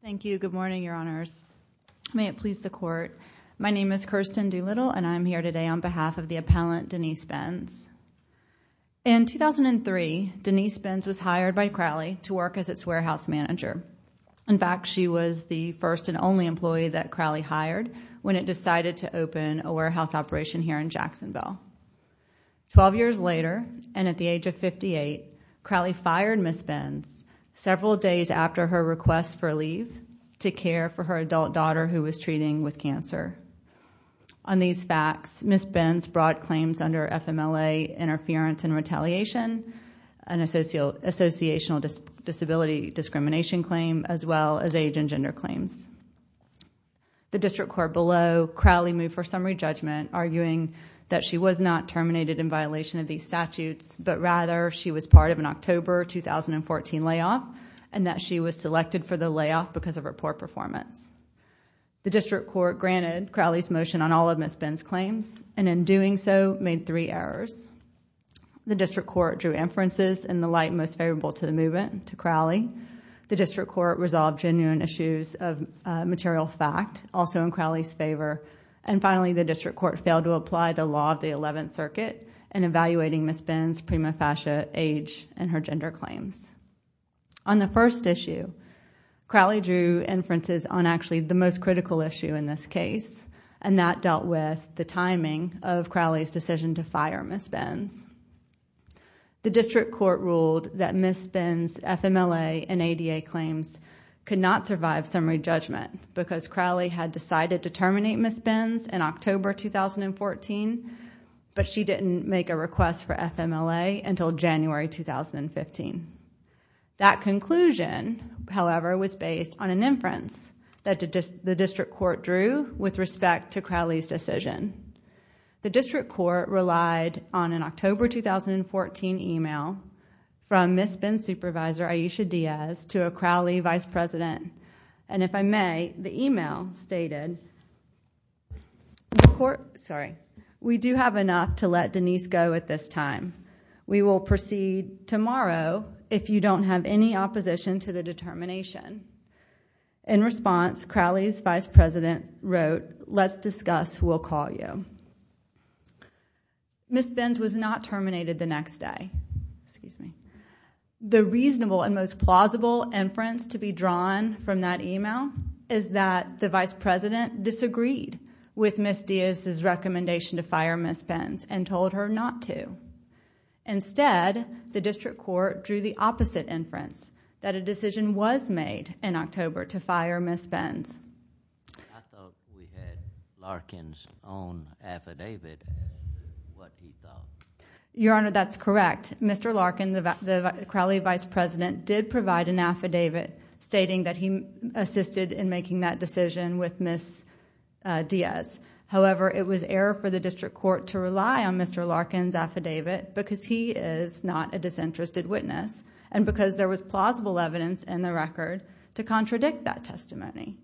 Thank you, good morning, Your Honors. May it please the Court, my name is Kirsten Doolittle and I am here today on behalf of the appellant Denise Benz. In 2003, Denise Benz was hired by Crowley to work as its warehouse manager. In fact, she was the first and only employee that Crowley hired when it decided to open a warehouse operation here in Jacksonville. Twelve years later, and at the age of 58, Crowley fired Ms. Benz several days after her request for leave to care for her adult daughter who was treating with cancer. On these facts, Ms. Benz brought claims under FMLA interference and retaliation, an associational disability discrimination claim, as well as age and gender claims. The District Court below Crowley moved her summary judgment arguing that she was not terminated in violation of these statutes, but rather she was part of an October 2014 layoff and that she was selected for the layoff because of her poor performance. The District Court granted Crowley's motion on all of Ms. Benz's claims, and in doing so, made three errors. The District Court drew inferences in the light most favorable to the movement, to Crowley. The District Court resolved genuine issues of material fact, also in Crowley's favor. And finally, the District Court failed to apply the law of the 11th Circuit in evaluating Ms. Benz's prima facie age and her gender claims. On the first issue, Crowley drew inferences on actually the most critical issue in this case, and that dealt with the timing of Crowley's decision to fire Ms. Benz. The District Court ruled that Ms. Benz's FMLA and ADA claims could not survive summary judgment because Crowley had decided to terminate Ms. Benz in October 2014, but she didn't make a request for FMLA until January 2015. That conclusion, however, was based on an inference that the District Court drew with respect to Crowley's decision. The District Court relied on an October 2014 email from Ms. Benz supervisor Aisha Diaz to a Crowley vice president, and if I may, the email stated, We do have enough to let Denise go at this time. We will proceed tomorrow if you don't have any opposition to the determination. In response, Crowley's vice president wrote, Let's discuss who will call you. Ms. Benz was not terminated the next day. The reasonable and most plausible inference to be drawn from that email is that the vice president disagreed with Ms. Diaz's recommendation to fire Ms. Benz and told her not to. Instead, the District Court drew the opposite inference, that a decision was made in October to fire Ms. Benz. I thought we had Larkin's own affidavit. Your Honor, that's correct. Mr. Larkin, the Crowley vice president, did provide an affidavit stating that he assisted in making that decision with Ms. Diaz. However, it was error for the District Court to rely on Mr. Larkin's affidavit because he is not a disinterested witness and because there was plausible evidence in the record to contradict that testimony.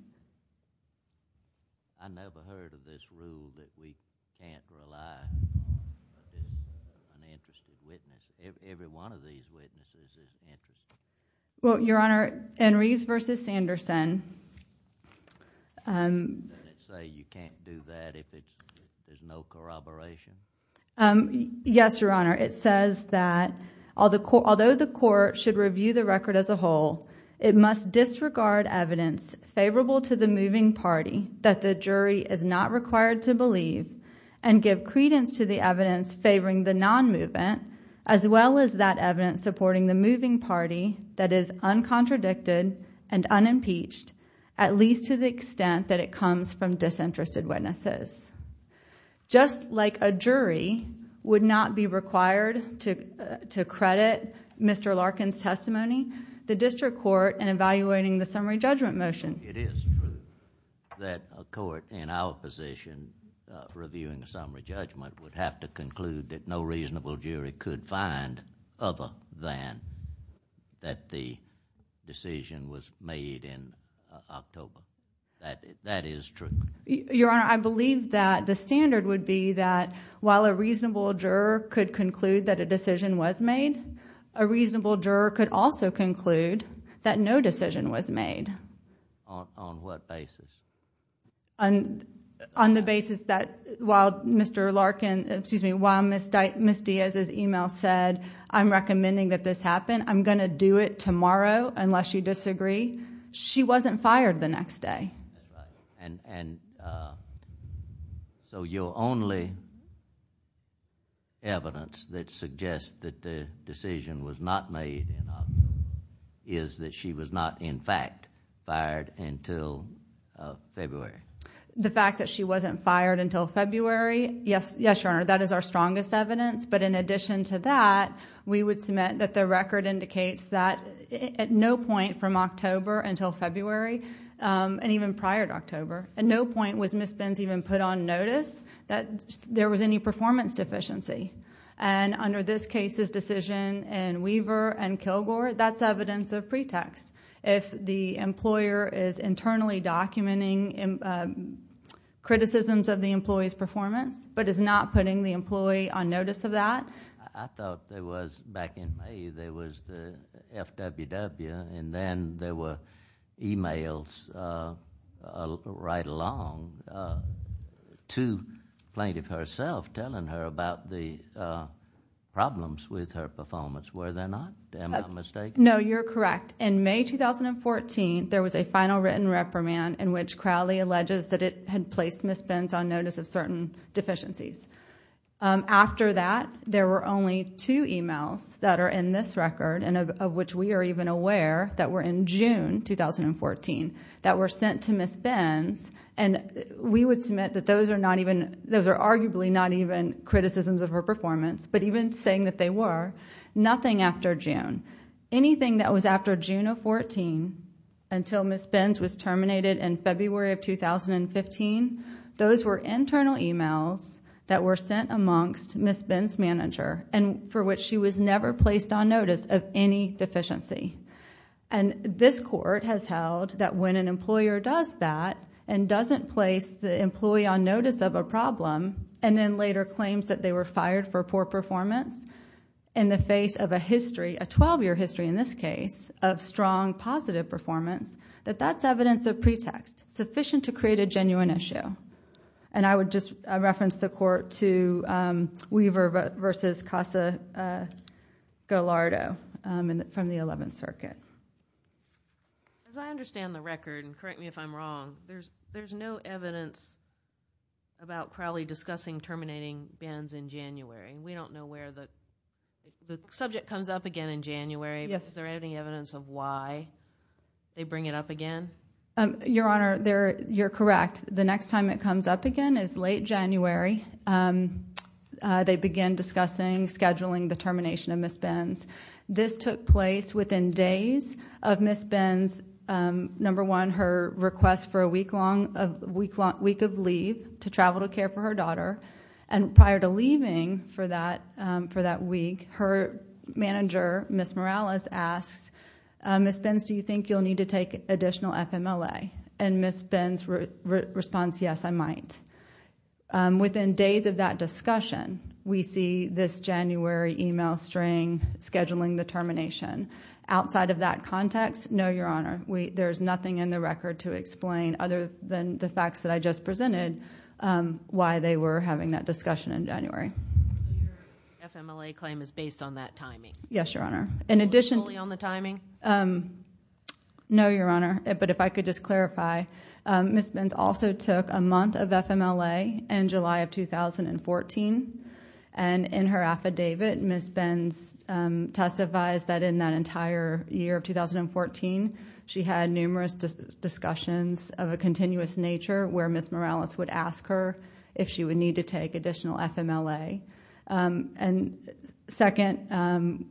I never heard of this rule that we can't rely on an interested witness. Every one of these witnesses is interested. Your Honor, in Reeves v. Sanderson... Didn't it say you can't do that if there's no corroboration? Yes, Your Honor. It says that although the court should review the record as a whole, it must disregard evidence favorable to the moving party that the jury is not required to believe and give credence to the evidence favoring the non-movement as well as that evidence supporting the moving party that is uncontradicted and unimpeached, at least to the extent that it comes from disinterested witnesses. Just like a jury would not be required to credit Mr. Larkin's testimony, the District would have to conclude that no reasonable jury could find other than that the decision was made in October. That is true. Your Honor, I believe that the standard would be that while a reasonable juror could conclude that a decision was made, a reasonable juror could also conclude that no decision was made. On what basis? On the basis that while Mr. Larkin... excuse me, while Ms. Diaz's email said, I'm recommending that this happen, I'm going to do it tomorrow unless you disagree, she wasn't fired the next day. And so your only evidence that suggests that the decision was not made in October is that she was not, in fact, fired until February. The fact that she wasn't fired until February, yes, Your Honor, that is our strongest evidence. But in addition to that, we would submit that the record indicates that at no point from October until February, and even prior to October, at no point was Ms. Benz even put on notice that there was any performance deficiency. And under this case's decision in Weaver and Kilgore, that's evidence of pretext. If the employer is internally documenting criticisms of the employee's performance, but is not putting the employee on notice of that... I thought there was, back in May, there was the FWW, and then there were emails right along to Plaintiff herself telling her about the problems with her performance. Were there not? Am I mistaken? No, you're correct. In May 2014, there was a final written reprimand in which Crowley alleges that it had placed Ms. Benz on notice of certain deficiencies. After that, there were only two emails that are in this record, and of which we are even aware, that were in June 2014, that were sent to Ms. Benz. We would submit that those are arguably not even criticisms of her performance, but even saying that they were, nothing after June. Anything that was after June of 2014, until Ms. Benz was terminated in February of 2015, those were internal emails that were sent amongst Ms. Benz's manager, for which she was never placed on notice of any deficiency. This court has held that when an employer does that, and doesn't place the employee on notice of a problem, and then later claims that they were fired for poor performance in the face of a history, a 12-year history in this case, of strong positive performance, that that's evidence of pretext, sufficient to create a genuine issue. I would just reference the court to Weaver v. Casa-Gallardo from the Eleventh Circuit. As I understand the record, and correct me if I'm wrong, there's no evidence about Crowley discussing terminating Benz in January. We don't know where the... the subject comes up again in January, but is there any evidence of why they bring it up again? Your Honor, you're correct. The next time it comes up again is late January. They begin discussing scheduling the termination of Ms. Benz. This took place within days of Ms. Benz's, number one, her request for a week of leave to travel to care for her daughter. Prior to leaving for that week, her manager, Ms. Morales, asks, Ms. Benz, do you think you'll need to take additional FMLA? Ms. Benz responds, yes, I might. Within days of that discussion, we see this January email string scheduling the termination. Outside of that context, no, Your Honor. There's nothing in the record to explain, other than the facts that I just presented, why they were having that discussion in January. Your FMLA claim is based on that timing? Yes, Your Honor. In addition to- Only on the timing? No, Your Honor. If I could just clarify, Ms. Benz also took a month of FMLA in July of 2014. In her affidavit, Ms. Benz testifies that in that entire year of 2014, she had numerous discussions of a continuous nature, where Ms. Morales would ask her if she would need to take additional FMLA. Second,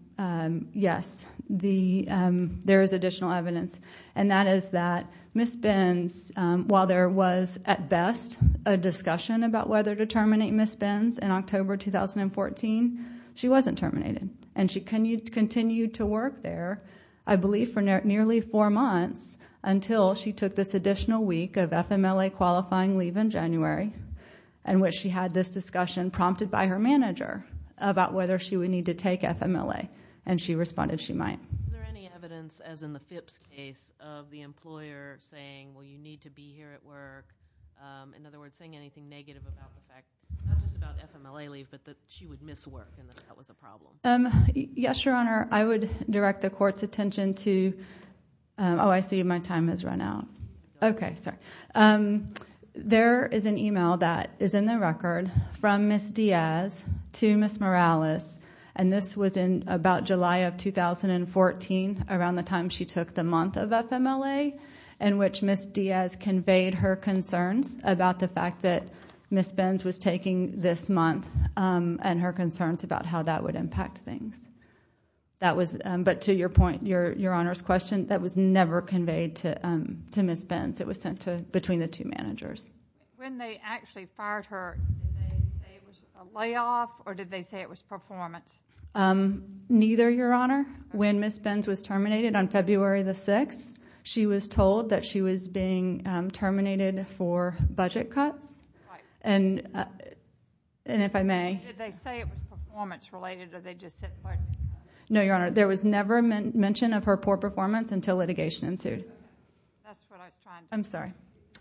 yes, there is additional evidence, and that is that Ms. Benz, while there was at best a discussion about whether to terminate Ms. Benz in October 2014, she wasn't terminated, and she continued to work there, I believe for nearly four months, until she took this additional week of FMLA qualifying leave in January, in which she had this discussion prompted by her manager about whether she would need to take FMLA, and she responded she might. Is there any evidence, as in the Phipps case, of the employer saying, well, you need to be here at work? In other words, saying anything negative about the fact, not just about FMLA leave, but that she would miss work and that that was a problem? Yes, Your Honor. I would direct the court's attention to- Oh, I see my time has run out. Okay, sorry. There is an email that is in the record from Ms. Diaz to Ms. Morales, and this was in about July of 2014, around the time she took the month of FMLA, in which Ms. Diaz conveyed her concerns about the fact that Ms. Benz was taking this month and her concerns about how that would impact things. But to your point, Your Honor's question, that was never conveyed to Ms. Benz. It was sent between the two managers. When they actually fired her, did they say it was a layoff, or did they say it was performance? Neither, Your Honor. When Ms. Benz was terminated on February the 6th, she was told that she was being terminated for budget cuts. And if I may- Did they say it was performance-related, or did they just say- No, Your Honor. There was never mention of her poor performance until litigation ensued. That's what I was trying to- I'm sorry.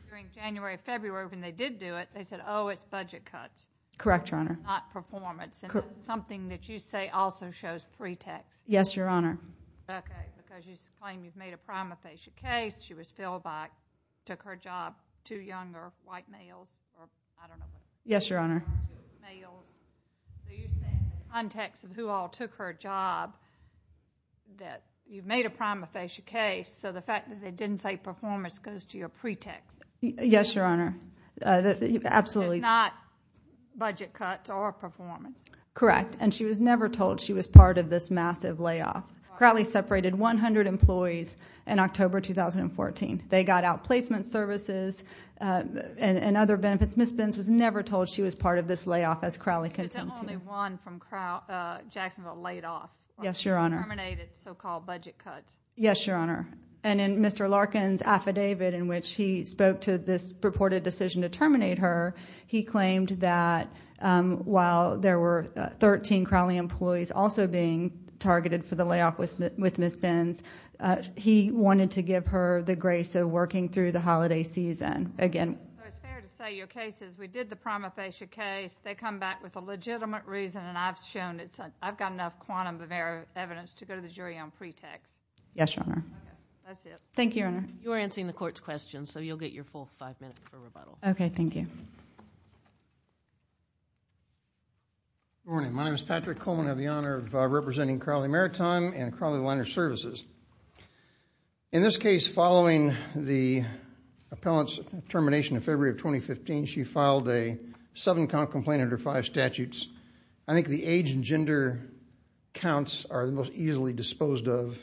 During January, February, when they did do it, they said, oh, it's budget cuts. Correct, Your Honor. Not performance. Correct. And that's something that you say also shows pretext. Yes, Your Honor. Okay, because you claim you've made a prima facie case, she was filled back, took her job, two younger white males, or I don't know- Yes, Your Honor. White males. So you're saying in the context of who all took her job, that you've made a prima facie case, so the fact that they didn't say performance goes to your pretext. Yes, Your Honor. Absolutely. It's not budget cuts or performance. Correct. And she was never told she was part of this massive layoff. Crowley separated 100 employees in October 2014. They got out placement services and other benefits. Ms. Benz was never told she was part of this layoff, as Crowley contends to. There's only one from Jacksonville laid off. Yes, Your Honor. Terminated so-called budget cuts. Yes, Your Honor. And in Mr. Larkin's affidavit in which he spoke to this purported decision to terminate her, he claimed that while there were 13 Crowley employees also being targeted for the layoff with Ms. Benz, he wanted to give her the grace of working through the holiday season again. So it's fair to say your case is we did the prima facie case. They come back with a legitimate reason, and I've shown I've got enough quantum of evidence to go to the jury on pretext. Yes, Your Honor. That's it. Thank you, Your Honor. You're answering the court's questions, so you'll get your full five minutes for rebuttal. Okay, thank you. Good morning. My name is Patrick Coleman. I have the honor of representing Crowley Maritime and Crowley Liner Services. In this case, following the appellant's termination in February of 2015, she filed a seven-count complaint under five statutes. I think the age and gender counts are the most easily disposed of.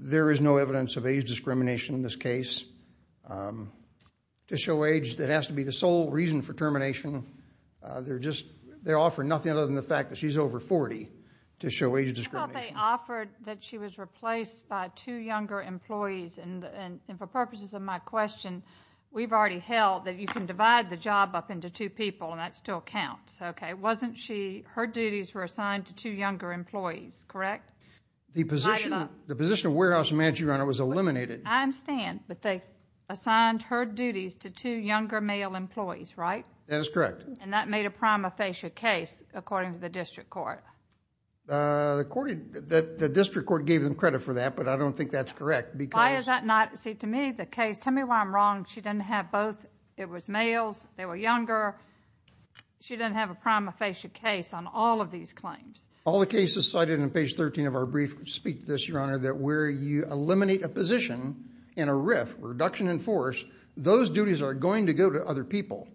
There is no evidence of age discrimination in this case. To show age, that has to be the sole reason for termination. They're offering nothing other than the fact that she's over 40 to show age discrimination. I thought they offered that she was replaced by two younger employees, and for purposes of my question, we've already held that you can divide the job up into two people, and that still counts. Okay, wasn't she, her duties were assigned to two younger employees, correct? The position of warehouse manager, Your Honor, was eliminated. I understand, but they assigned her duties to two younger male employees, right? That is correct. And that made a prima facie case, according to the district court. The district court gave them credit for that, but I don't think that's correct because... No, it is not. See, to me, the case, tell me why I'm wrong. She didn't have both. It was males. They were younger. She didn't have a prima facie case on all of these claims. All the cases cited in page 13 of our brief speak to this, Your Honor, that where you eliminate a position in a RIF, reduction in force, those duties are going to go to other people.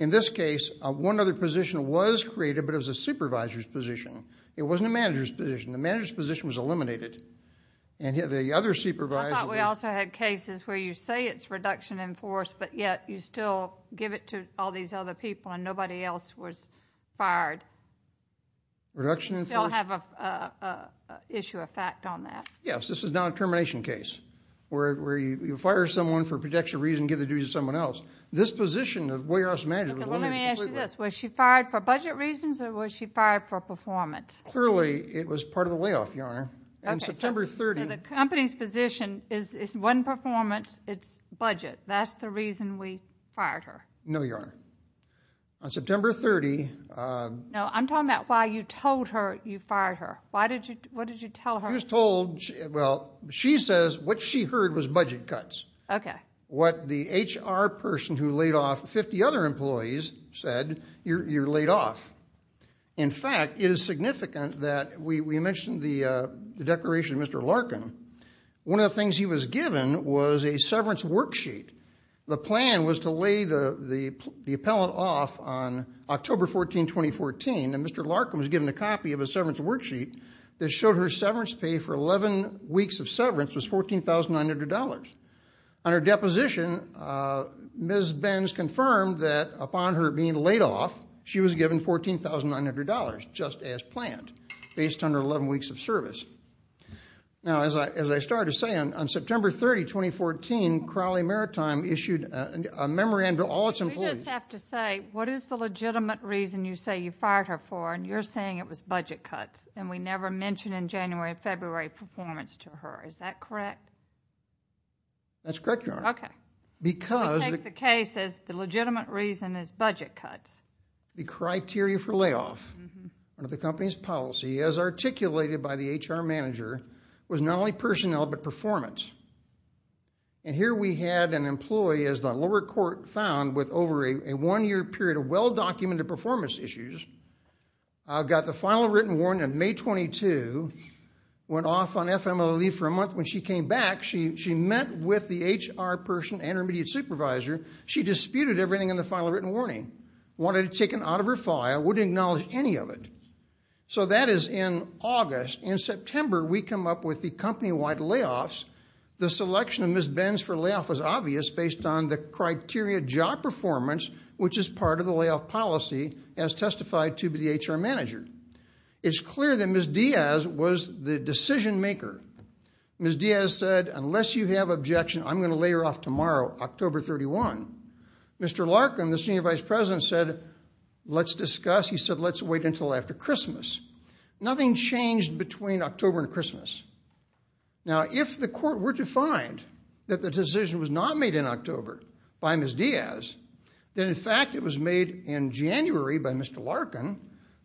In this case, one other position was created, but it was a supervisor's position. It wasn't a manager's position. The manager's position was eliminated, and the other supervisor... I thought we also had cases where you say it's reduction in force, but yet you still give it to all these other people and nobody else was fired. Reduction in force? You still have an issue of fact on that. Yes. This is not a termination case where you fire someone for protection of reason, give the duties to someone else. This position of warehouse manager was eliminated completely. Let me ask you this. Was she fired for budget reasons or was she fired for performance? Clearly, it was part of the layoff, Your Honor. Okay. So the company's position is it's one performance, it's budget. That's the reason we fired her. No, Your Honor. On September 30... No, I'm talking about why you told her you fired her. What did you tell her? She was told... well, she says what she heard was budget cuts. Okay. What the HR person who laid off 50 other employees said, you're laid off. In fact, it is significant that we mentioned the declaration of Mr. Larkin. One of the things he was given was a severance worksheet. The plan was to lay the appellant off on October 14, 2014, and Mr. Larkin was given a copy of a severance worksheet that showed her severance pay for 11 weeks of severance was $14,900. On her deposition, Ms. Benz confirmed that upon her being laid off, she was given $14,900, just as planned, based on her 11 weeks of service. Now, as I started to say, on September 30, 2014, Crowley Maritime issued a memorandum to all its employees... We just have to say, what is the legitimate reason you say you fired her for, and you're saying it was budget cuts, and we never mentioned in January or February performance to her. Is that correct? That's correct, Your Honor. Because... Let me take the case as the legitimate reason is budget cuts. The criteria for layoff under the company's policy, as articulated by the HR manager, was not only personnel, but performance. And here we had an employee, as the lower court found, with over a one-year period of well-documented performance issues, got the final written warning on May 22, went off on FMLE for a month. When she came back, she met with the HR person and her immediate supervisor. She disputed everything in the final written warning, wanted it taken out of her file, wouldn't acknowledge any of it. So, that is in August. In September, we come up with the company-wide layoffs. The selection of Ms. Benz for layoff was obvious, based on the criteria job performance, which is part of the layoff policy, as testified to by the HR manager. It's clear that Ms. Diaz was the decision-maker. Ms. Diaz said, unless you have objection, I'm going to lay her off tomorrow, October 31. Mr. Larkin, the senior vice president, said, let's discuss. He said, let's wait until after Christmas. Nothing changed between October and Christmas. Now, if the court were to find that the decision was not made in October by Ms. Diaz, then, in fact, it was made in January by Mr. Larkin,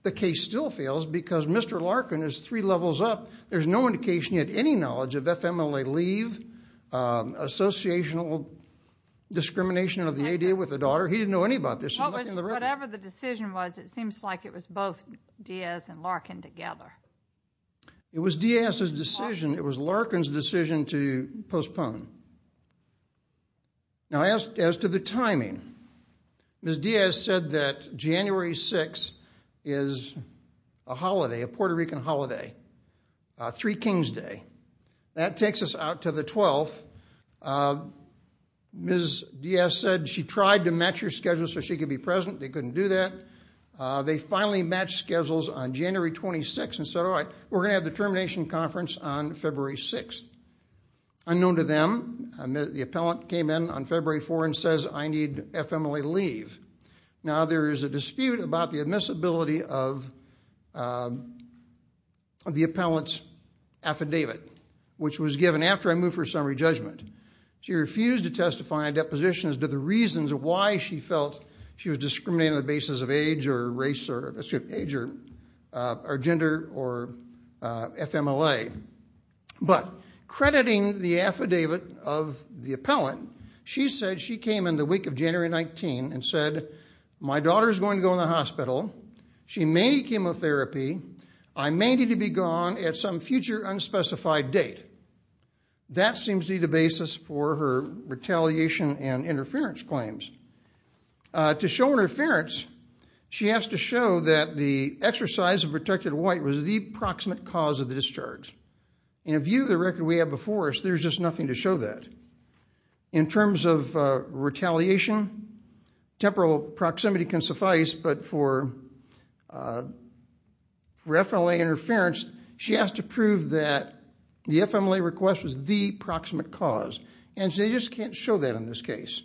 the case still fails because Mr. Larkin is three levels up. There's no indication, yet, any knowledge of FMLE leave, associational discrimination of the ADA with the daughter. He didn't know any about this. Whatever the decision was, it seems like it was both Diaz and Larkin together. It was Diaz's decision. It was Larkin's decision to postpone. Now, as to the timing, Ms. Diaz said that January 6 is a holiday, a Puerto Rican holiday, Three Kings Day. That takes us out to the 12th. Ms. Diaz said she tried to match her schedule so she could be present. They couldn't do that. They finally matched schedules on January 26 and said, all right, we're going to have the termination conference on February 6. Unknown to them, the appellant came in on February 4 and says, I need FMLE leave. Now, there is a dispute about the admissibility of the appellant's affidavit, which was given after I moved for a summary judgment. She refused to testify on deposition as to the reasons why she felt she was discriminating on the basis of age or race or gender or FMLE. But crediting the affidavit of the appellant, she said she came in the week of January 19 and said, my daughter is going to go in the hospital. She may need chemotherapy. I may need to be gone at some future unspecified date. That seems to be the basis for her retaliation and interference claims. To show interference, she has to show that the exercise of protected white was the proximate cause of the discharge. In view of the record we have before us, there's just nothing to show that. In terms of retaliation, temporal proximity can suffice. But for FMLE interference, she has to prove that the FMLE request was the proximate cause. And she just can't show that in this case.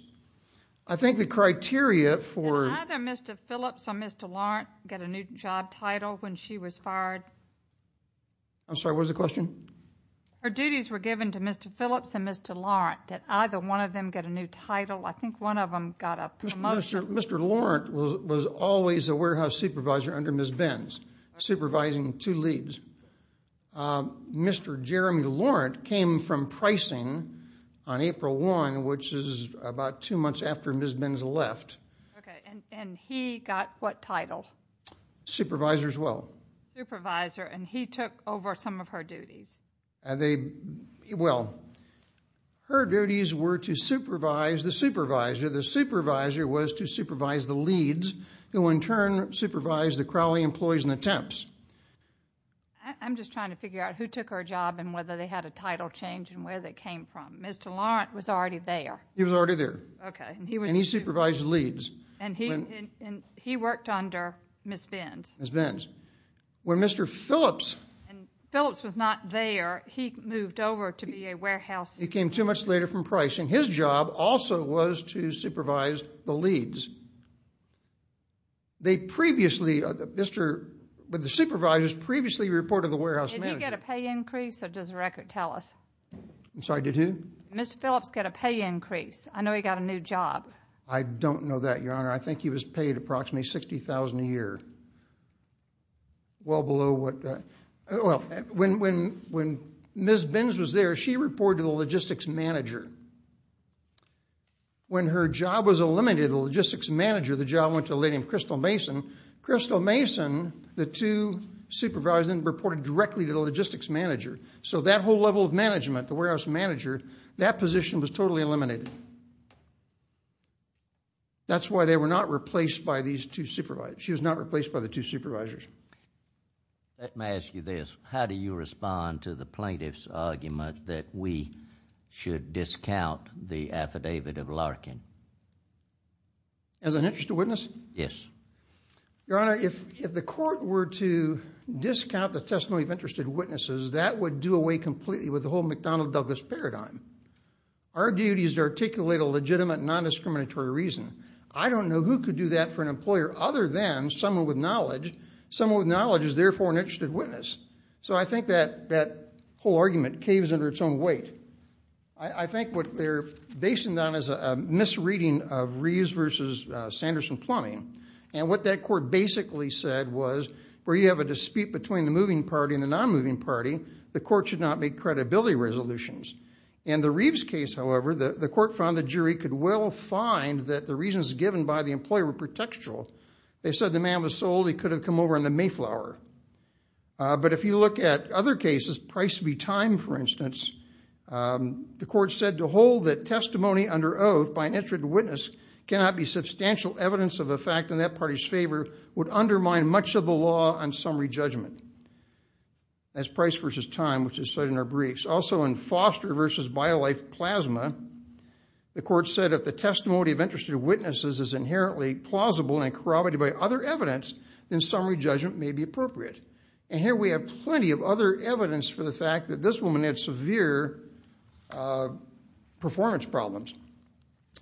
I think the criteria for- Did either Mr. Phillips or Ms. DeLaurent get a new job title when she was fired? I'm sorry, what was the question? Her duties were given to Mr. Phillips and Mr. Laurent. Did either one of them get a new title? I think one of them got a promotion. Mr. Laurent was always a warehouse supervisor under Ms. Benz, supervising two leads. Mr. Jeremy Laurent came from pricing on April 1, which is about two months after Ms. Benz left. Okay, and he got what title? Supervisor as well. Supervisor, and he took over some of her duties. Well, her duties were to supervise the supervisor. The supervisor was to supervise the leads, who in turn supervised the Crowley employees and the temps. I'm just trying to figure out who took her job and whether they had a title change and where they came from. Mr. Laurent was already there. He was already there. And he supervised the leads. And he worked under Ms. Benz. Ms. Benz. When Mr. Phillips – And Phillips was not there. He moved over to be a warehouse – He came too much later from pricing. His job also was to supervise the leads. They previously – Mr. – but the supervisors previously reported the warehouse manager. Did he get a pay increase, or does the record tell us? I'm sorry, did who? Mr. Phillips got a pay increase. I know he got a new job. I don't know that, Your Honor. I think he was paid approximately $60,000 a year. Well below what – Well, when Ms. Benz was there, she reported to the logistics manager. When her job was eliminated, the logistics manager of the job went to a lady named Crystal Mason. Crystal Mason, the two supervisors, then reported directly to the logistics manager. So that whole level of management, the warehouse manager, that position was totally eliminated. That's why they were not replaced by these two supervisors. She was not replaced by the two supervisors. Let me ask you this. How do you respond to the plaintiff's argument that we should discount the affidavit of Larkin? As an interested witness? Yes. Your Honor, if the court were to discount the testimony of interested witnesses, that would do away completely with the whole McDonnell-Douglas paradigm. Our duty is to articulate a legitimate, non-discriminatory reason. I don't know who could do that for an employer other than someone with knowledge. Someone with knowledge is therefore an interested witness. So I think that whole argument caves under its own weight. I think what they're basing it on is a misreading of Reeves v. Sanderson-Plumbing. And what that court basically said was, where you have a dispute between the moving party and the non-moving party, the court should not make credibility resolutions. In the Reeves case, however, the court found the jury could well find that the reasons given by the employer were pretextual. They said the man was sold. He could have come over in the Mayflower. But if you look at other cases, Price v. Time, for instance, the court said to hold that testimony under oath by an interested witness cannot be substantial evidence of a fact in that party's favor would undermine much of the law on summary judgment. That's Price v. Time, which is cited in our briefs. Also in Foster v. BioLife Plasma, the court said if the testimony of interested witnesses is inherently plausible and corroborated by other evidence, then summary judgment may be appropriate. And here we have plenty of other evidence for the fact that this woman had severe performance problems.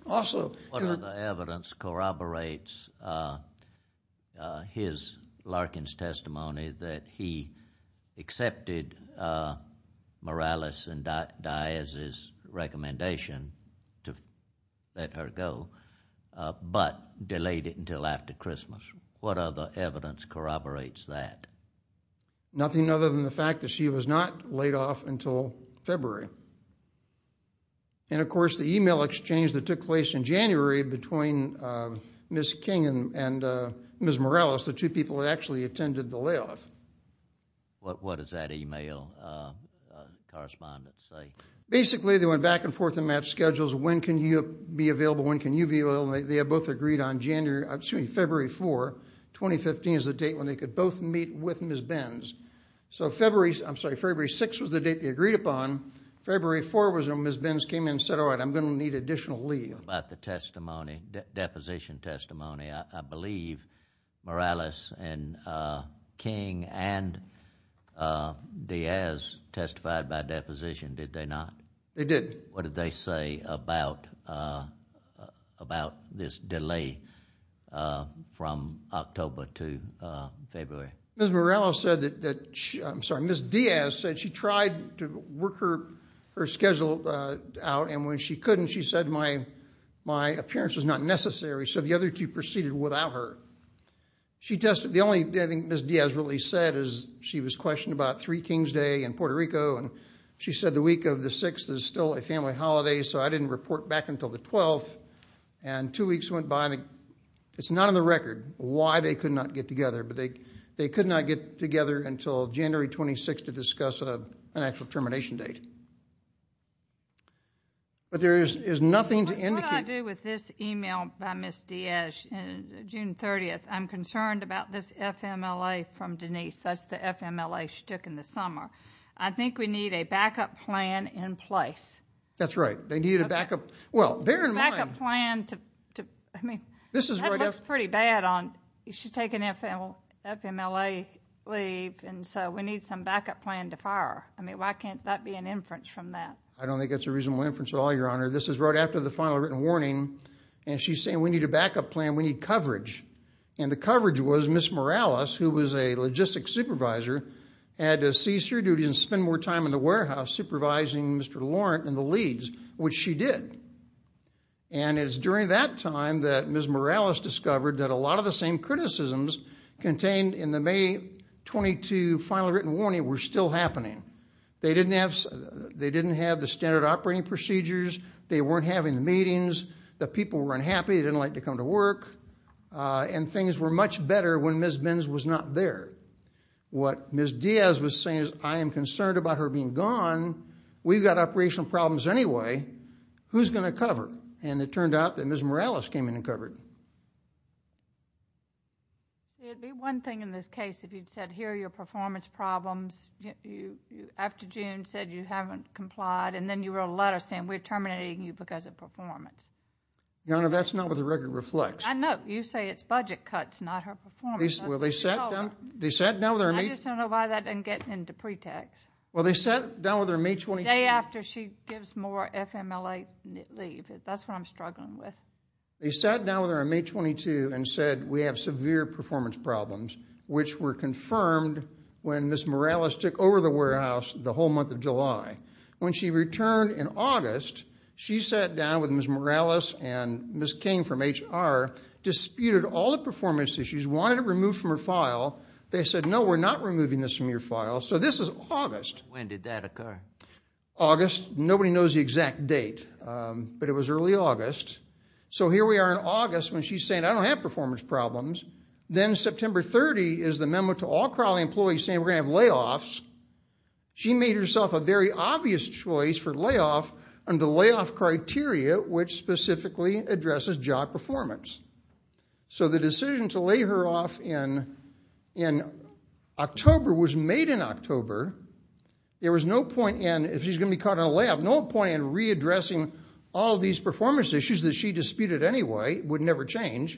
What other evidence corroborates his Larkin's testimony that he accepted Morales and Diaz's recommendation to let her go but delayed it until after Christmas? What other evidence corroborates that? Nothing other than the fact that she was not laid off until February. And, of course, the e-mail exchange that took place in January between Ms. King and Ms. Morales, the two people that actually attended the layoff. What does that e-mail correspondent say? Basically, they went back and forth in match schedules. When can you be available? When can you be available? They had both agreed on February 4, 2015, is the date when they could both meet with Ms. Benz. So February 6 was the date they agreed upon. February 4 was when Ms. Benz came in and said, all right, I'm going to need additional leave. What about the deposition testimony? I believe Morales and King and Diaz testified by deposition, did they not? They did. What did they say about this delay from October to February? Ms. Diaz said she tried to work her schedule out, and when she couldn't she said my appearance was not necessary, so the other two proceeded without her. The only thing Ms. Diaz really said is she was questioned about Three Kings Day in Puerto Rico, and she said the week of the 6th is still a family holiday, so I didn't report back until the 12th. And two weeks went by, and it's not on the record why they could not get together, but they could not get together until January 26 to discuss an actual termination date. But there is nothing to indicate. What do I do with this email by Ms. Diaz, June 30th? I'm concerned about this FMLA from Denise. That's the FMLA she took in the summer. I think we need a backup plan in place. That's right. They need a backup. Well, bear in mind. I mean, that looks pretty bad. She's taking FMLA leave, and so we need some backup plan to fire. I mean, why can't that be an inference from that? I don't think that's a reasonable inference at all, Your Honor. This is right after the final written warning, and she's saying we need a backup plan. We need coverage. And the coverage was Ms. Morales, who was a logistics supervisor, had to cease her duty and spend more time in the warehouse supervising Mr. Laurent and the leads, which she did. And it's during that time that Ms. Morales discovered that a lot of the same criticisms contained in the May 22 final written warning were still happening. They didn't have the standard operating procedures. They weren't having meetings. The people were unhappy. They didn't like to come to work. And things were much better when Ms. Benz was not there. What Ms. Diaz was saying is I am concerned about her being gone. We've got operational problems anyway. Who's going to cover? And it turned out that Ms. Morales came in and covered. It would be one thing in this case if you'd said here are your performance problems. After June said you haven't complied, and then you wrote a letter saying we're terminating you because of performance. Your Honor, that's not what the record reflects. I know. You say it's budget cuts, not her performance. Well, they sat down with her in May. I just don't know why that didn't get into pretext. Well, they sat down with her in May 22. The day after she gives more FMLA leave. That's what I'm struggling with. They sat down with her on May 22 and said we have severe performance problems, which were confirmed when Ms. Morales took over the warehouse the whole month of July. When she returned in August, she sat down with Ms. Morales and Ms. King from HR, disputed all the performance issues, wanted it removed from her file. They said, no, we're not removing this from your file, so this is August. When did that occur? August. Nobody knows the exact date, but it was early August. So here we are in August when she's saying I don't have performance problems. Then September 30 is the memo to all Crowley employees saying we're going to have layoffs. She made herself a very obvious choice for layoff under the layoff criteria, which specifically addresses job performance. So the decision to lay her off in October was made in October. There was no point in, if she's going to be caught in a layoff, no point in readdressing all these performance issues that she disputed anyway, would never change.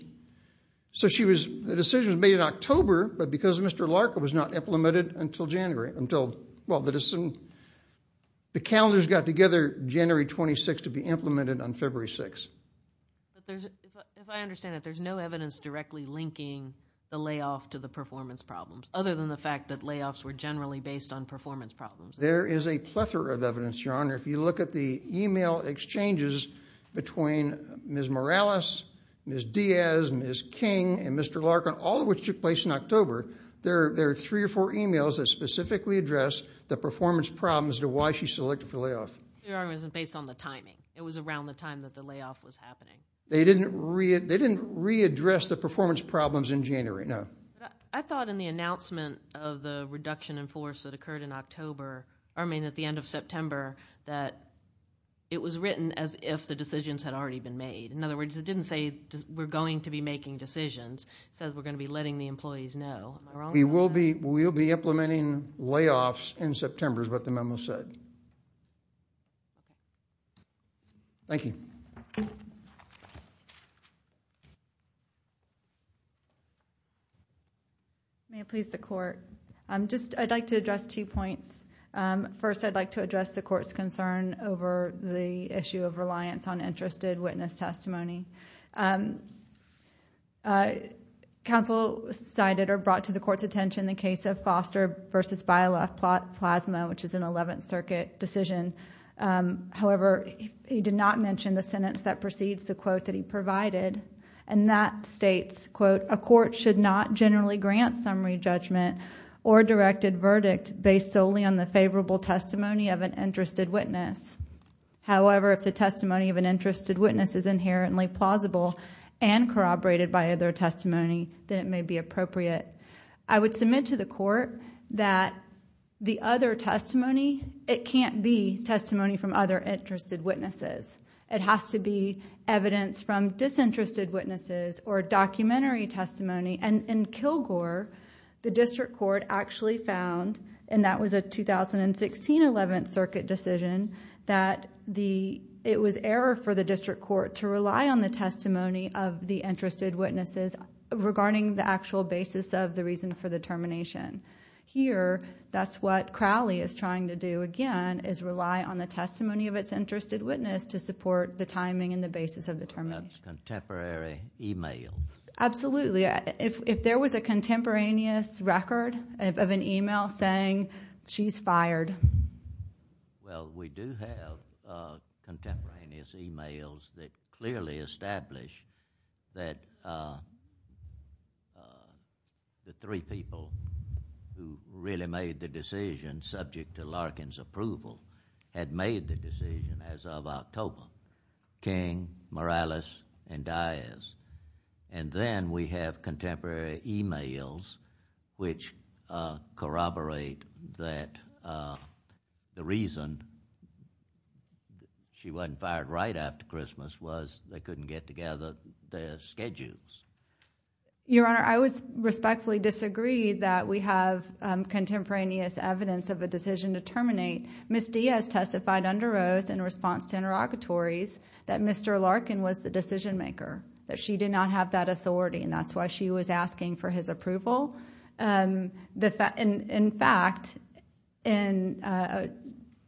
So the decision was made in October, but because Mr. Larkin was not implemented until January, well, the calendars got together January 26 to be implemented on February 6. If I understand it, there's no evidence directly linking the layoff to the performance problems, other than the fact that layoffs were generally based on performance problems. There is a plethora of evidence, Your Honor. If you look at the email exchanges between Ms. Morales, Ms. Diaz, Ms. King, and Mr. Larkin, all of which took place in October, there are three or four emails that specifically address the performance problems to why she selected for layoff. Your Honor, it wasn't based on the timing. It was around the time that the layoff was happening. They didn't readdress the performance problems in January? No. I thought in the announcement of the reduction in force that occurred in October, I mean at the end of September, that it was written as if the decisions had already been made. In other words, it didn't say we're going to be making decisions. It said we're going to be letting the employees know. Am I wrong on that? We will be implementing layoffs in September is what the memo said. Thank you. May it please the Court. I'd like to address two points. First, I'd like to address the Court's concern over the issue of reliance on interested witness testimony. Counsel cited or brought to the Court's attention the case of Foster v. Bialoff-Plasma, which is an Eleventh Circuit decision. However, he did not mention the sentence that precedes the quote that he provided, and that states, quote, a court should not generally grant summary judgment or directed verdict based solely on the favorable testimony of an interested witness. However, if the testimony of an interested witness is inherently plausible and corroborated by other testimony, then it may be appropriate. I would submit to the Court that the other testimony, it can't be testimony from other interested witnesses. It has to be evidence from disinterested witnesses or documentary testimony. In Kilgore, the District Court actually found, and that was a 2016 Eleventh Circuit decision, that it was error for the District Court to rely on the testimony of the interested witnesses regarding the actual basis of the reason for the termination. Here, that's what Crowley is trying to do again, is rely on the testimony of its interested witness to support the timing and the basis of the termination. That's contemporary email. Absolutely. If there was a contemporaneous record of an email saying she's fired. Well, we do have contemporaneous emails that clearly establish that the three people who really made the decision subject to Larkin's approval had made the decision as of October, King, Morales, and Diaz. Then we have contemporary emails which corroborate that the reason she wasn't fired right after Christmas was they couldn't get together their schedules. Your Honor, I would respectfully disagree that we have contemporaneous evidence of a decision to terminate. Ms. Diaz testified under oath in response to interrogatories that Mr. Larkin was the decision maker, that she did not have that authority, and that's why she was asking for his approval. In fact, in a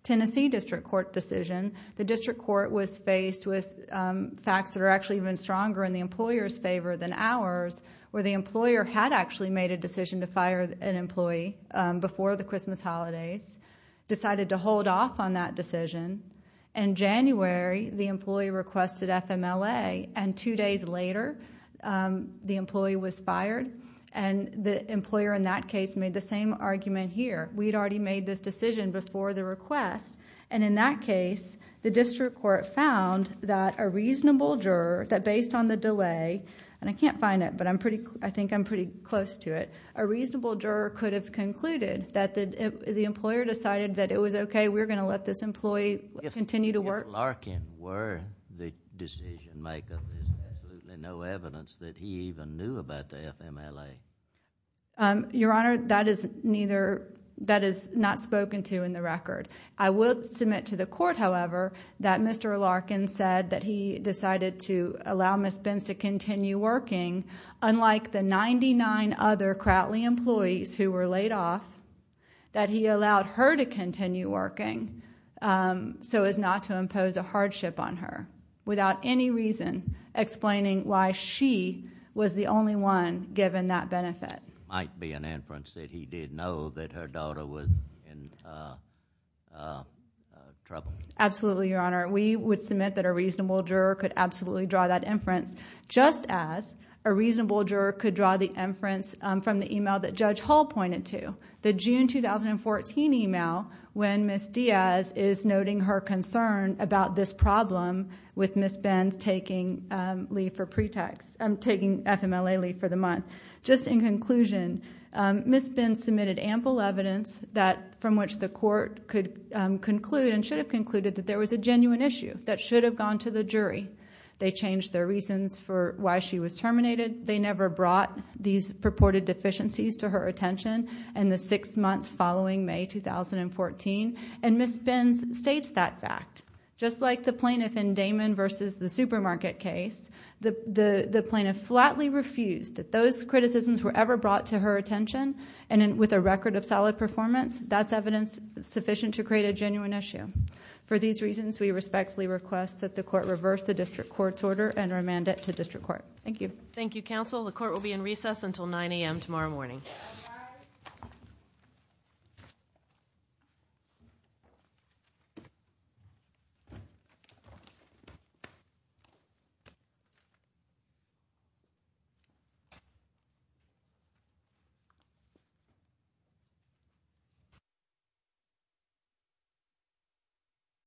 Tennessee District Court decision, the District Court was faced with facts that are actually even stronger in the employer's favor than ours, where the employer had actually made a decision to fire an employee before the Christmas holidays, decided to hold off on that decision. In January, the employee requested FMLA, and two days later, the employee was fired, and the employer in that case made the same argument here. We'd already made this decision before the request, and in that case, the District Court found that a reasonable juror, that based on the delay, and I can't find it, but I think I'm pretty close to it, a reasonable juror could have concluded that the employer decided that it was okay, we're going to let this employee continue to work. If Larkin were the decision maker, there's absolutely no evidence that he even knew about the FMLA. Your Honor, that is not spoken to in the record. I will submit to the Court, however, that Mr. Larkin said that he decided to allow Ms. Benz to continue working, unlike the 99 other Crowley employees who were laid off, that he allowed her to continue working so as not to impose a hardship on her, without any reason explaining why she was the only one given that benefit. It might be an inference that he did know that her daughter was in trouble. Absolutely, Your Honor. We would submit that a reasonable juror could absolutely draw that inference, just as a reasonable juror could draw the inference from the email that Judge Hall pointed to, the June 2014 email when Ms. Diaz is noting her concern about this problem with Ms. Benz taking FMLA leave for the month. Just in conclusion, Ms. Benz submitted ample evidence from which the Court could conclude and should have concluded that there was a genuine issue that should have gone to the jury. They changed their reasons for why she was terminated, they never brought these purported deficiencies to her attention, in the six months following May 2014, and Ms. Benz states that fact. Just like the plaintiff in Damon v. the supermarket case, the plaintiff flatly refused that those criticisms were ever brought to her attention, and with a record of solid performance, that's evidence sufficient to create a genuine issue. For these reasons, we respectfully request that the Court reverse the District Court's order and remand it to District Court. Thank you. Thank you, Counsel. The Court will be in recess until 9 a.m. tomorrow morning. Good night.